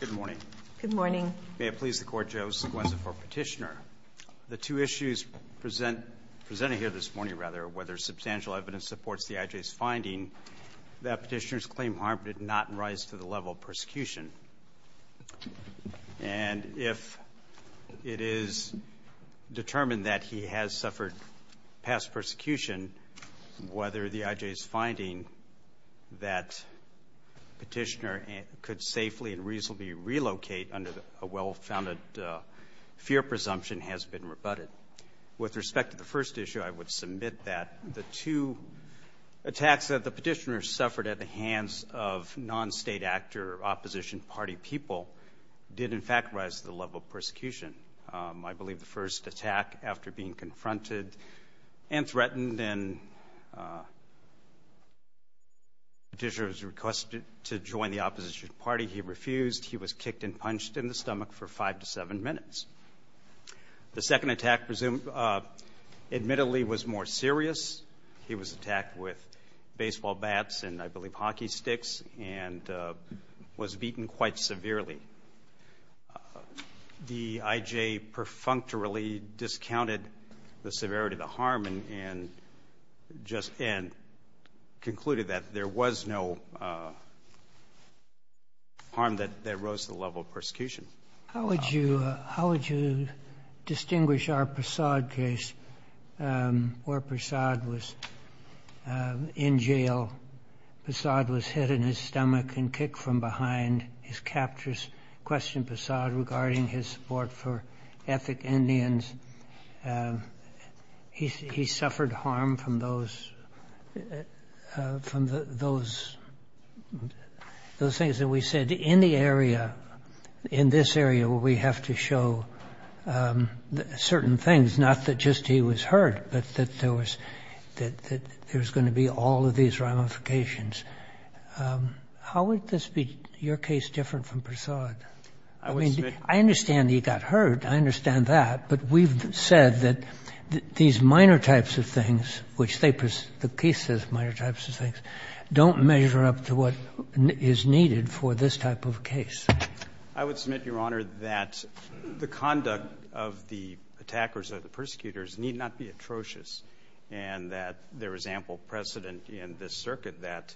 Good morning. Good morning. May it please the Court, Joseph Wesson for Petitioner. The two issues present, presented here this morning rather, whether substantial evidence supports the IJ's finding that Petitioner's claim harm did not rise to the level of persecution. And if it is determined that he has suffered past persecution, whether the IJ's finding that Petitioner could safely and reasonably relocate under a well-founded fear presumption has been rebutted. With respect to the first issue, I would submit that the two attacks that the Petitioner suffered at the hands of non-state actor opposition party people did, in fact, rise to the level of persecution. I believe the first attack after being confronted and threatened and Petitioner's request to join the opposition party, he refused. He was kicked and punched in the stomach for five to seven minutes. The second attack presumably, admittedly, was more The IJ perfunctorily discounted the severity of the harm and just concluded that there was no harm that rose to the level of persecution. How would you, how would you distinguish our Pasad case where Pasad was in jail, Pasad was hit in his stomach and kicked from behind. His captors questioned Pasad regarding his support for ethnic Indians. He suffered harm from those, from those, those things that we said. In the area, in this area where we have to show certain things, not that just he was hurt, but that there was, that there was going to be all of these ramifications, how would this be your case different from Pasad? I mean, I understand he got hurt. I understand that. But we've said that these minor types of things, which they, the case says minor types of things, don't measure up to what is needed for this type of case. I would submit, Your Honor, that the conduct of the attackers or the persecutors need not be atrocious and that there is ample precedent in this circuit that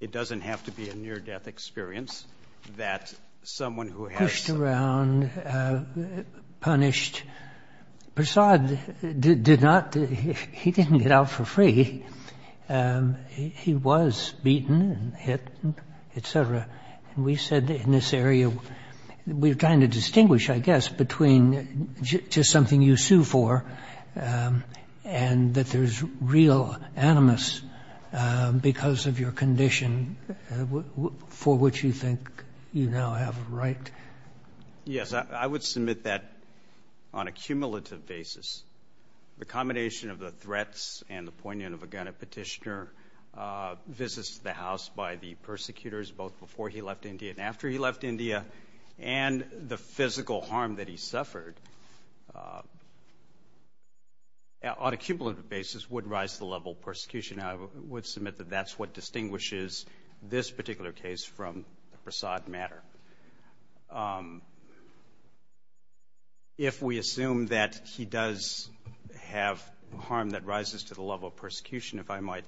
it doesn't have to be a near-death experience that someone who has to be punished. Pasad did not, he didn't get out for free. He was beaten and hit, et cetera. And we said in this area, we're trying to distinguish, I guess, between just something you sue for and that there's real animus because of your condition for which you think you now have a right. Yes, I would submit that on a cumulative basis, the combination of the threats and the poignant of a gun at Petitioner, visits to the house by the persecutors, both before he left India and after he left India, and the physical harm that he suffered, on a cumulative basis, would rise to the level of persecution. I would submit that that's what distinguishes this particular case from the Pasad matter. If we assume that he does have harm that rises to the level of persecution, if I might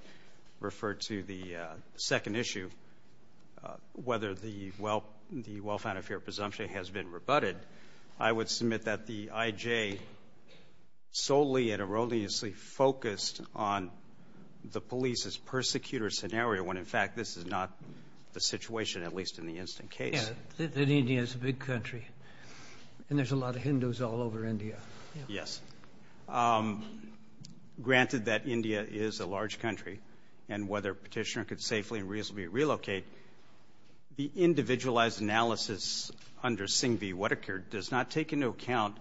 refer to the second issue, whether the well-founded fear of presumption has been rebutted, I would submit that the IJ solely and erroneously focused on the police's persecutor scenario when, in fact, this is not the situation, at least in the instant case. Yeah, that India is a big country, and there's a lot of Hindus all over India. Yes. Granted that India is a large country, and whether Petitioner could safely and reasonably relocate, the individualized analysis under Singh v. Whittaker case, that seemed to be a big issue, that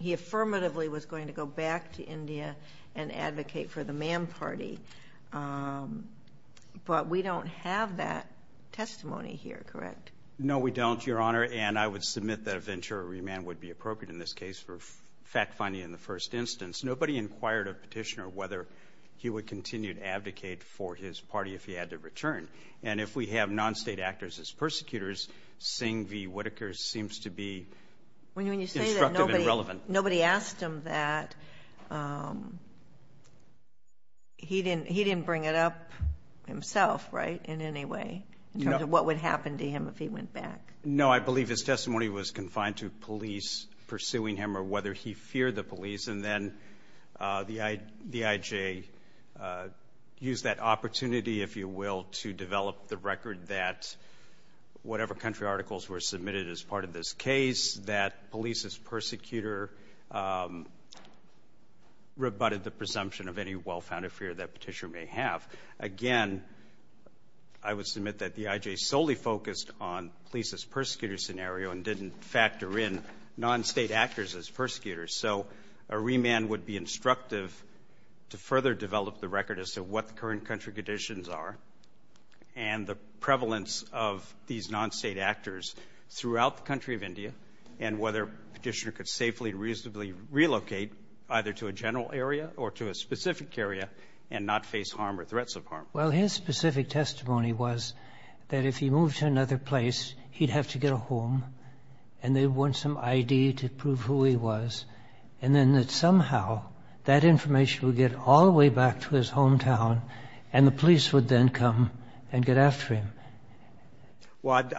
he affirmatively was going to go back to India and advocate for the man party. But we don't have that testimony here, correct? No, we don't, Your Honor. And I would submit that a ventura remand would be appropriate in this case for fact-finding in the first instance. Nobody inquired of Petitioner whether he would continue to advocate for his party if he had to return. And if we have non-State actors as persecutors, Singh v. Whittaker seems to be instructive and relevant. Nobody asked him that. He didn't bring it up himself, right, in any way, in terms of what would happen to him if he went back? No, I believe his testimony was confined to police pursuing him or whether he feared the police. And then the IJ used that opportunity, if you will, to develop the record that whatever country articles were submitted as part of this case, that police as persecutor rebutted the presumption of any well-founded fear that Petitioner may have. Again, I would submit that the IJ solely focused on police as persecutor scenario and didn't factor in non-State actors as persecutors. So a remand would be instructive to further develop the record as to what the current country conditions are and the prevalence of these non-State actors throughout the country of India and whether Petitioner could safely and reasonably relocate either to a general area or to a specific area and not face harm or threats of harm. Well, his specific testimony was that if he moved to another place, he'd have to get a home, and they'd want some I.D. to prove who he was. And then that somehow that information would get all the way back to his hometown and the police would then come and get after him. But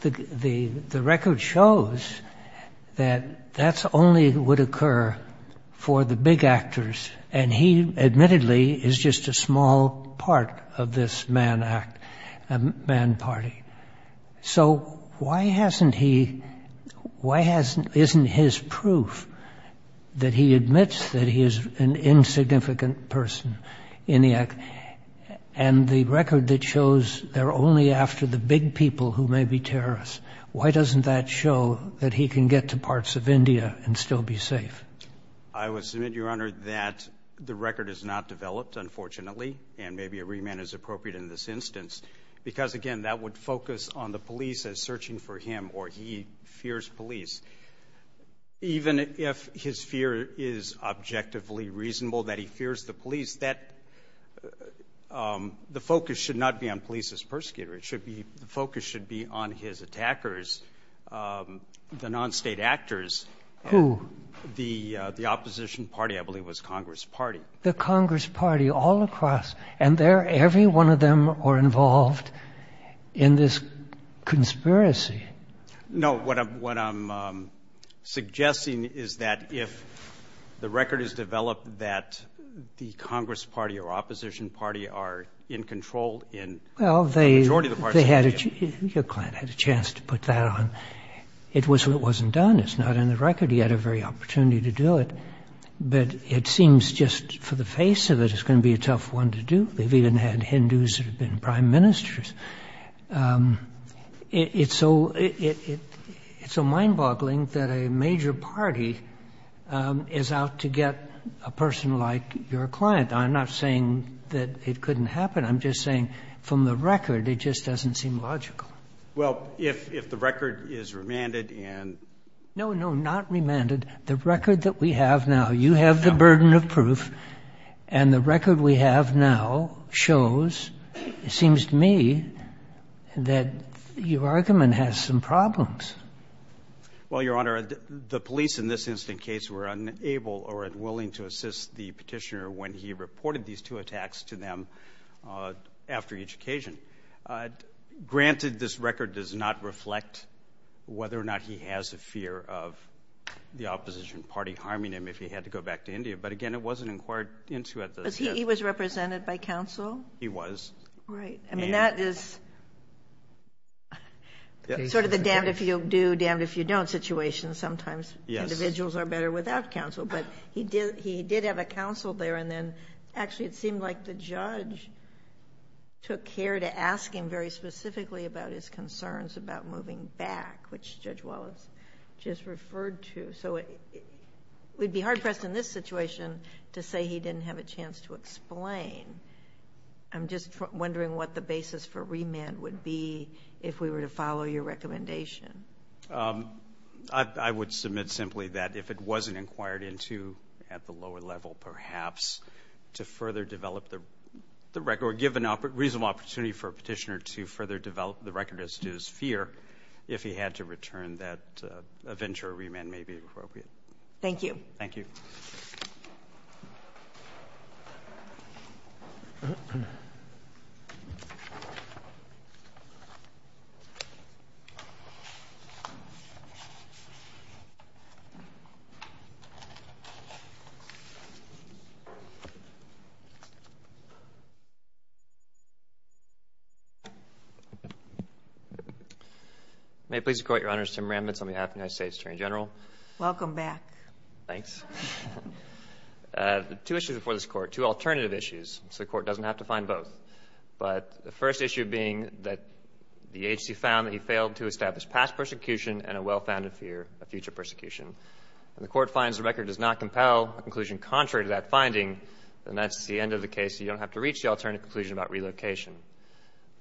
the record shows that that only would occur for the big actors, and he admittedly is just a small part of this man party. So why hasn't he — why isn't his proof that he admits that he is an insignificant person in the act and the record that shows they're only after the big people who may be terrorists, why doesn't that show that he can get to parts of India and still be safe? I would submit, Your Honor, that the record is not developed, unfortunately, and maybe a remand is appropriate in this instance, because, again, that would focus on the police as searching for him or he fears police. Even if his fear is objectively reasonable that he fears the police, that — the focus should not be on police as persecutors. It should be — the focus should be on his attackers, the non-State actors. Who? The opposition party, I believe, was Congress Party. The Congress Party all across. And they're — every one of them are involved in this conspiracy. No, what I'm suggesting is that if the record is developed that the Congress Party or opposition party are in control in the majority of the parts of India — Well, they had — your client had a chance to put that on. It wasn't done. It's not in the record. He had a very opportunity to do it. But it seems just for the face of it, it's going to be a tough one to do. They've even had Hindus that have been prime ministers. It's so — it's so mind-boggling that a major party is out to get a person like your client. I'm not saying that it couldn't happen. I'm just saying, from the record, it just doesn't seem logical. Well, if the record is remanded and — No, no, not remanded. The record that we have now — you have the burden of proof. And the record we have now shows, it seems to me, that your argument has some problems. Well, Your Honor, the police in this incident case were unable or unwilling to assist the Petitioner when he reported these two attacks to them after each occasion. Granted, this record does not reflect whether or not he has a fear of the opposition party harming him if he had to go back to India. But, again, it wasn't inquired into at the time. He was represented by counsel? He was. Right. I mean, that is sort of the damned if you do, damned if you don't situation. Sometimes individuals are better without counsel. But he did have a counsel there. And then, actually, it seemed like the judge took care to ask him very specifically about his concerns about moving back, which Judge Wallace just referred to. So we'd be hard-pressed in this situation to say he didn't have a chance to explain. I'm just wondering what the basis for remand would be if we were to follow your recommendation. I would submit simply that if it wasn't inquired into at the lower level perhaps to further develop the record or give a reasonable opportunity for a Petitioner to further develop the record as to his fear if he had to return, that a venture or remand may be appropriate. Thank you. Thank you. Thank you. May it please the Court, your Honor, this is Tim Ramitz on behalf of the United States Attorney General. Welcome back. Thanks. Two issues before this Court, two alternative issues, so the Court doesn't have to find both, but the first issue being that the agency found that he failed to establish past persecution and a well-founded fear of future persecution. If the Court finds the record does not compel a conclusion contrary to that finding, then that's the end of the case. You don't have to reach the alternative conclusion about relocation.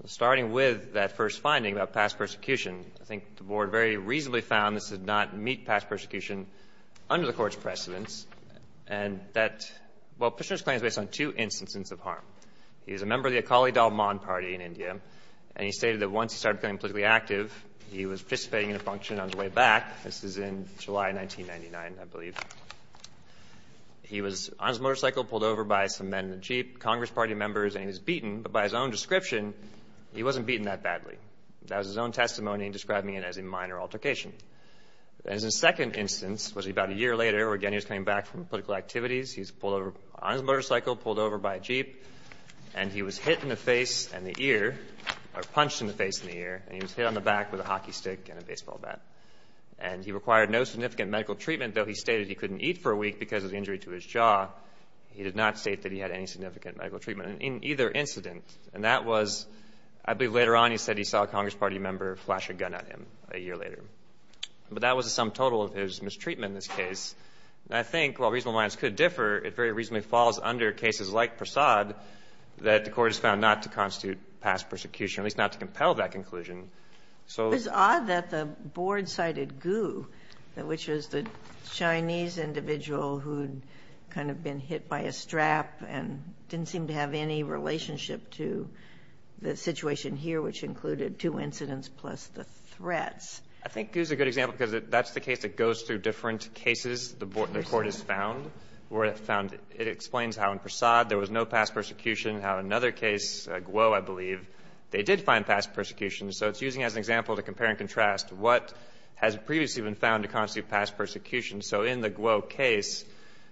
Starting with that first finding about past persecution, I think the Board very reasonably found this did not meet past persecution under the Court's precedence and that, well, he was a member of the Akali Dalman Party in India, and he stated that once he started getting politically active, he was participating in a function on his way back. This is in July 1999, I believe. He was on his motorcycle pulled over by some men in a Jeep, Congress Party members, and he was beaten, but by his own description, he wasn't beaten that badly. That was his own testimony describing it as a minor altercation. And his second instance was about a year later where, again, he was coming back from political activities. He was pulled over on his motorcycle, pulled over by a Jeep, and he was hit in the face and the ear, or punched in the face and the ear, and he was hit on the back with a hockey stick and a baseball bat. And he required no significant medical treatment, though he stated he couldn't eat for a week because of the injury to his jaw. He did not state that he had any significant medical treatment in either incident. And that was, I believe, later on he said he saw a Congress Party member flash a gun at him a year later. But that was the sum total of his mistreatment in this case. I think, while reasonable minds could differ, it very reasonably falls under cases like Prasad that the Court has found not to constitute past persecution, at least not to compel that conclusion. So the law is not to compel that conclusion. Ginsburg. It's odd that the board cited Gu, which was the Chinese individual who had kind of been hit by a strap and didn't seem to have any relationship to the situation here, which included two incidents plus the threats. I think Gu is a good example because that's the case that goes through different cases the Court has found, where it explains how in Prasad there was no past persecution, how in another case, Guo, I believe, they did find past persecution. So it's using it as an example to compare and contrast what has previously been found to constitute past persecution. So in the Guo case,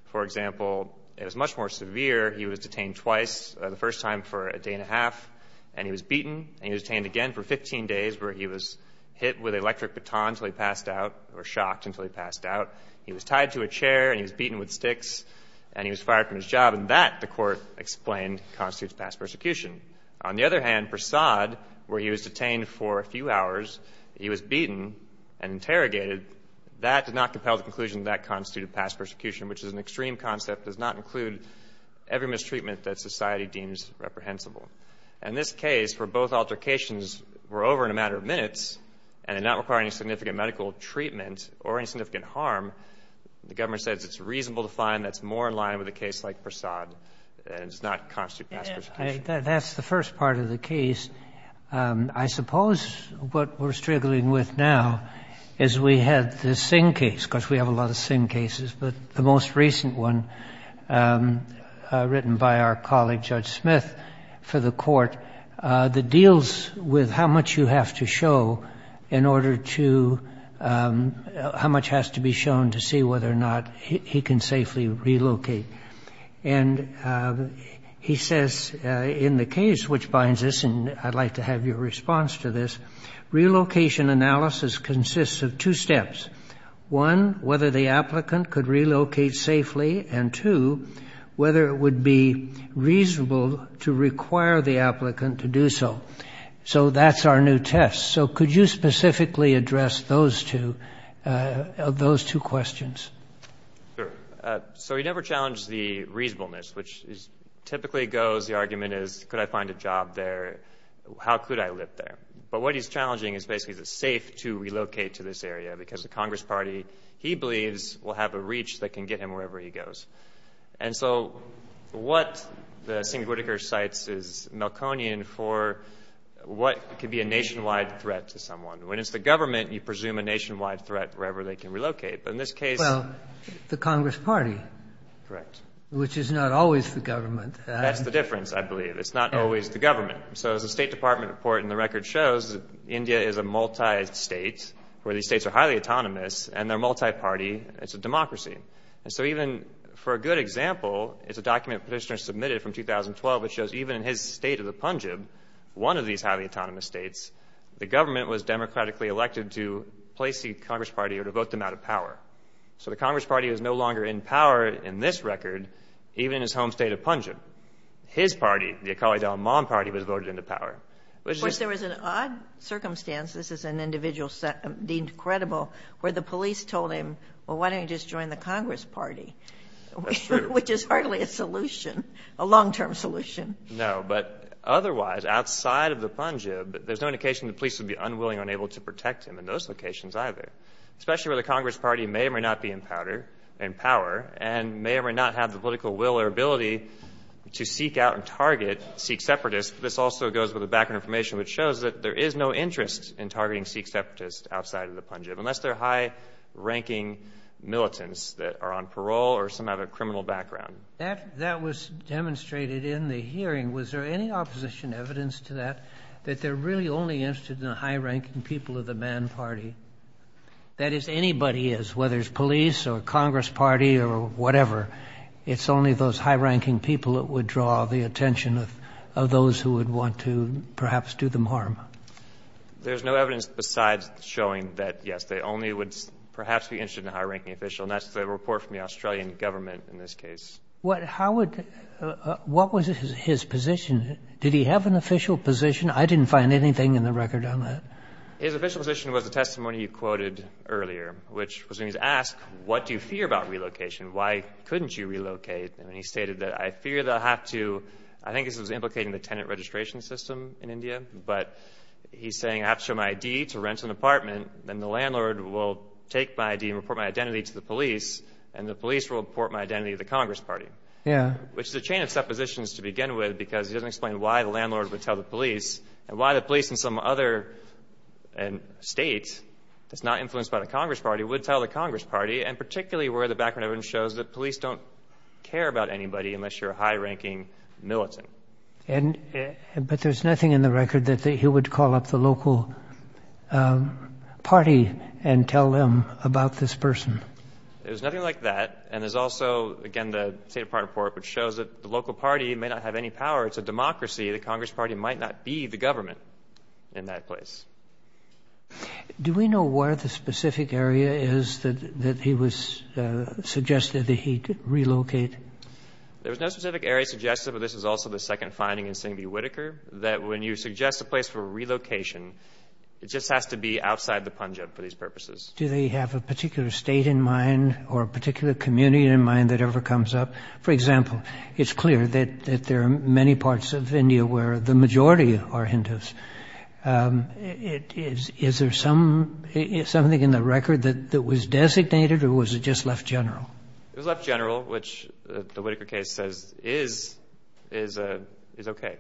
for example, it was much more severe. He was detained twice, the first time for a day and a half, and he was beaten, and he was detained again for 15 days, where he was hit with an electric baton until he passed out, or shocked until he passed out. He was tied to a chair and he was beaten with sticks, and he was fired from his job. And that, the Court explained, constitutes past persecution. On the other hand, Prasad, where he was detained for a few hours, he was beaten and interrogated. That did not compel the conclusion that that constituted past persecution, which is an extreme concept, does not include every mistreatment that society deems reprehensible. In this case, where both altercations were over in a matter of minutes and did not require any significant medical treatment or any significant harm, the government says it's reasonable to find that's more in line with a case like Prasad, and it does not constitute past persecution. That's the first part of the case. I suppose what we're struggling with now is we had the Singh case, because we have a lot of Singh cases, but the most recent one, written by our colleague, Judge Smith, for the Court, that deals with how much you have to show in order to, how much has to be shown to see whether or not he can safely relocate. And he says in the case which binds this, and I'd like to have your response to this, relocation analysis consists of two steps. One, whether the applicant could relocate safely, and two, whether it would be reasonable to require the applicant to do so. So that's our new test. So could you specifically address those two questions? Sure. So he never challenged the reasonableness, which typically goes, the argument is, could I find a job there? How could I live there? But what he's challenging is basically is it safe to relocate to this area, because the Congress Party, he believes, will have a reach that can get him wherever he goes. And so what the Singh-Whitaker cites is Malconian for what could be a nationwide threat to someone. When it's the government, you presume a nationwide threat wherever they can relocate. But in this case – Well, the Congress Party. Correct. Which is not always the government. That's the difference, I believe. It's not always the government. So as the State Department report in the record shows, India is a multi-state, where these states are highly autonomous, and they're multi-party. It's a democracy. And so even for a good example, it's a document Petitioner submitted from 2012, which shows even in his state of the Punjab, one of these highly autonomous states, the government was democratically elected to place the Congress Party or to vote them out of power. So the Congress Party was no longer in power in this record, even in his home state of Punjab. His party, the Akali Dalman Party, was voted into power. Of course, there was an odd circumstance – this is an individual deemed credible – where the police told him, well, why don't you just join the Congress Party? That's true. Which is hardly a solution, a long-term solution. No. But otherwise, outside of the Punjab, there's no indication the police would be unwilling or unable to protect him in those locations either, especially where the Congress Party may or may not be in power and may or may not have the political will or ability to seek out and target Sikh separatists. This also goes with the background information, which shows that there is no interest in targeting Sikh separatists outside of the Punjab, unless they're high-ranking militants that are on parole or some other criminal background. That was demonstrated in the hearing. Was there any opposition evidence to that, that they're really only interested in the high-ranking people of the Mann Party? That is, anybody is, whether it's police or Congress Party or whatever. It's only those high-ranking people that would draw the attention of those who would want to perhaps do them harm. There's no evidence besides showing that, yes, they only would perhaps be interested in a high-ranking official, and that's the report from the Australian government in this case. How would — what was his position? Did he have an official position? I didn't find anything in the record on that. His official position was the testimony you quoted earlier, which was when he was asked, what do you fear about relocation? Why couldn't you relocate? And he stated that, I fear they'll have to — I think this was implicating the tenant registration system in India, but he's saying, I have to show my ID to rent an apartment, then the landlord will take my ID and report my identity to the police, and the police will report my identity to the Congress Party. Yeah. Which is a chain of suppositions to begin with, because he doesn't explain why the landlord would tell the police, and why the police in some other state that's not influenced by the Congress Party would tell the Congress Party, and particularly where the background evidence shows that police don't care about anybody unless you're a high-ranking militant. And — but there's nothing in the record that he would call up the local party and tell them about this person? There's nothing like that. And there's also, again, the State Department report, which shows that the local party may not have any power. It's a democracy. The Congress Party might not be the government in that place. Do we know where the specific area is that he was — suggested that he'd relocate? There's no specific area suggested, but this is also the second finding in Singbee-Whitaker, that when you suggest a place for relocation, it just has to be outside the Punjab for these purposes. Do they have a particular state in mind or a particular community in mind that ever comes up? For example, it's clear that there are many parts of India where the majority are Hindus. Is there some — is something in the record that was designated, or was it just left general? It was left general, which the Whitaker case says is — is okay.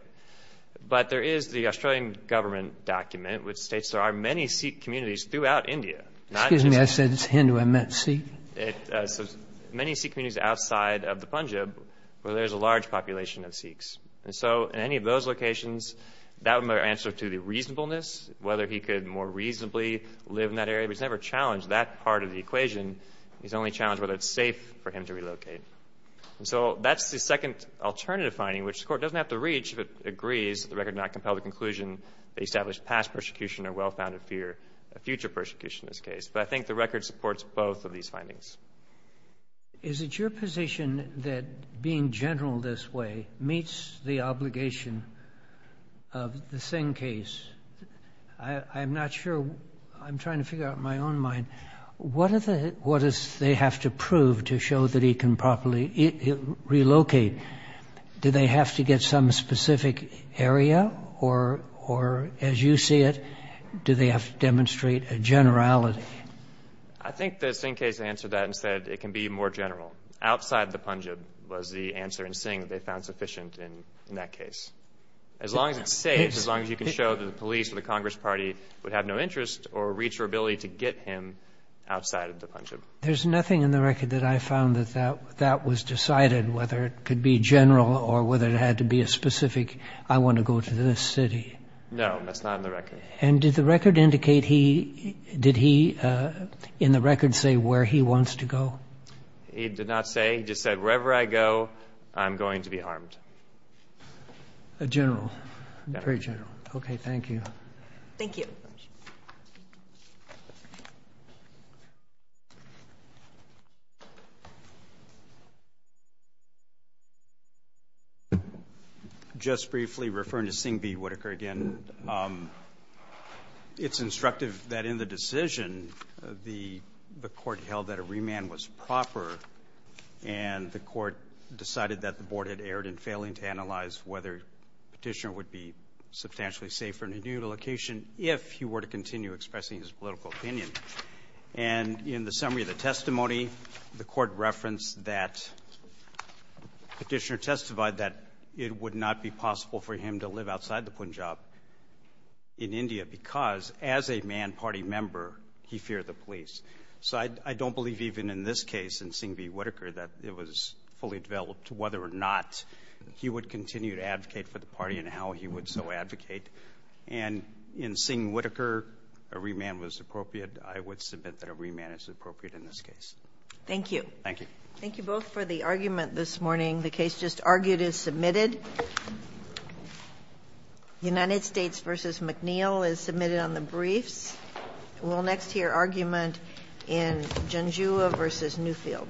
But there is the Australian government document, which states there are many Sikh communities throughout India, not just — Excuse me. I said it's Hindu. I meant Sikh. It says many Sikh communities outside of the Punjab where there's a large population of Sikhs. And so in any of those locations, that would answer to the reasonableness, whether But he's never challenged that part of the equation. He's only challenged whether it's safe for him to relocate. And so that's the second alternative finding, which the Court doesn't have to reach if it agrees that the record did not compel the conclusion that established past persecution or well-founded fear of future persecution in this case. But I think the record supports both of these findings. Is it your position that being general this way meets the obligation of the Singh case? I'm not sure. I'm trying to figure out in my own mind. What does they have to prove to show that he can properly relocate? Do they have to get some specific area? Or as you see it, do they have to demonstrate a generality? I think the Singh case answered that and said it can be more general. Outside the Punjab was the answer in Singh that they found sufficient in that case. As long as it's safe, as long as you can show that the police or the Congress Party would have no interest or reach your ability to get him outside of the Punjab. There's nothing in the record that I found that that was decided, whether it could be general or whether it had to be a specific, I want to go to this city. No, that's not in the record. And did the record indicate he, did he in the record say where he wants to go? He did not say. He just said wherever I go, I'm going to be harmed. General. Very general. Okay. Thank you. Thank you. Just briefly referring to Singh v. Whitaker again. It's instructive that in the decision, the court held that a remand was proper, and the court decided that the board had erred in failing to analyze whether Petitioner would be substantially safer in a new location if he were to continue expressing his political opinion. And in the summary of the testimony, the court referenced that Petitioner testified that it would not be possible for him to live outside the Punjab in India because as a man party member, he feared the police. So I don't believe even in this case in Singh v. Whitaker that it was fully developed whether or not he would continue to advocate for the party and how he would so advocate. And in Singh v. Whitaker, a remand was appropriate. I would submit that a remand is appropriate in this case. Thank you. Thank you. Thank you both for the argument this morning. The case just argued is submitted. United States v. McNeil is submitted on the briefs. We'll next hear argument in Genjua v. Newfield.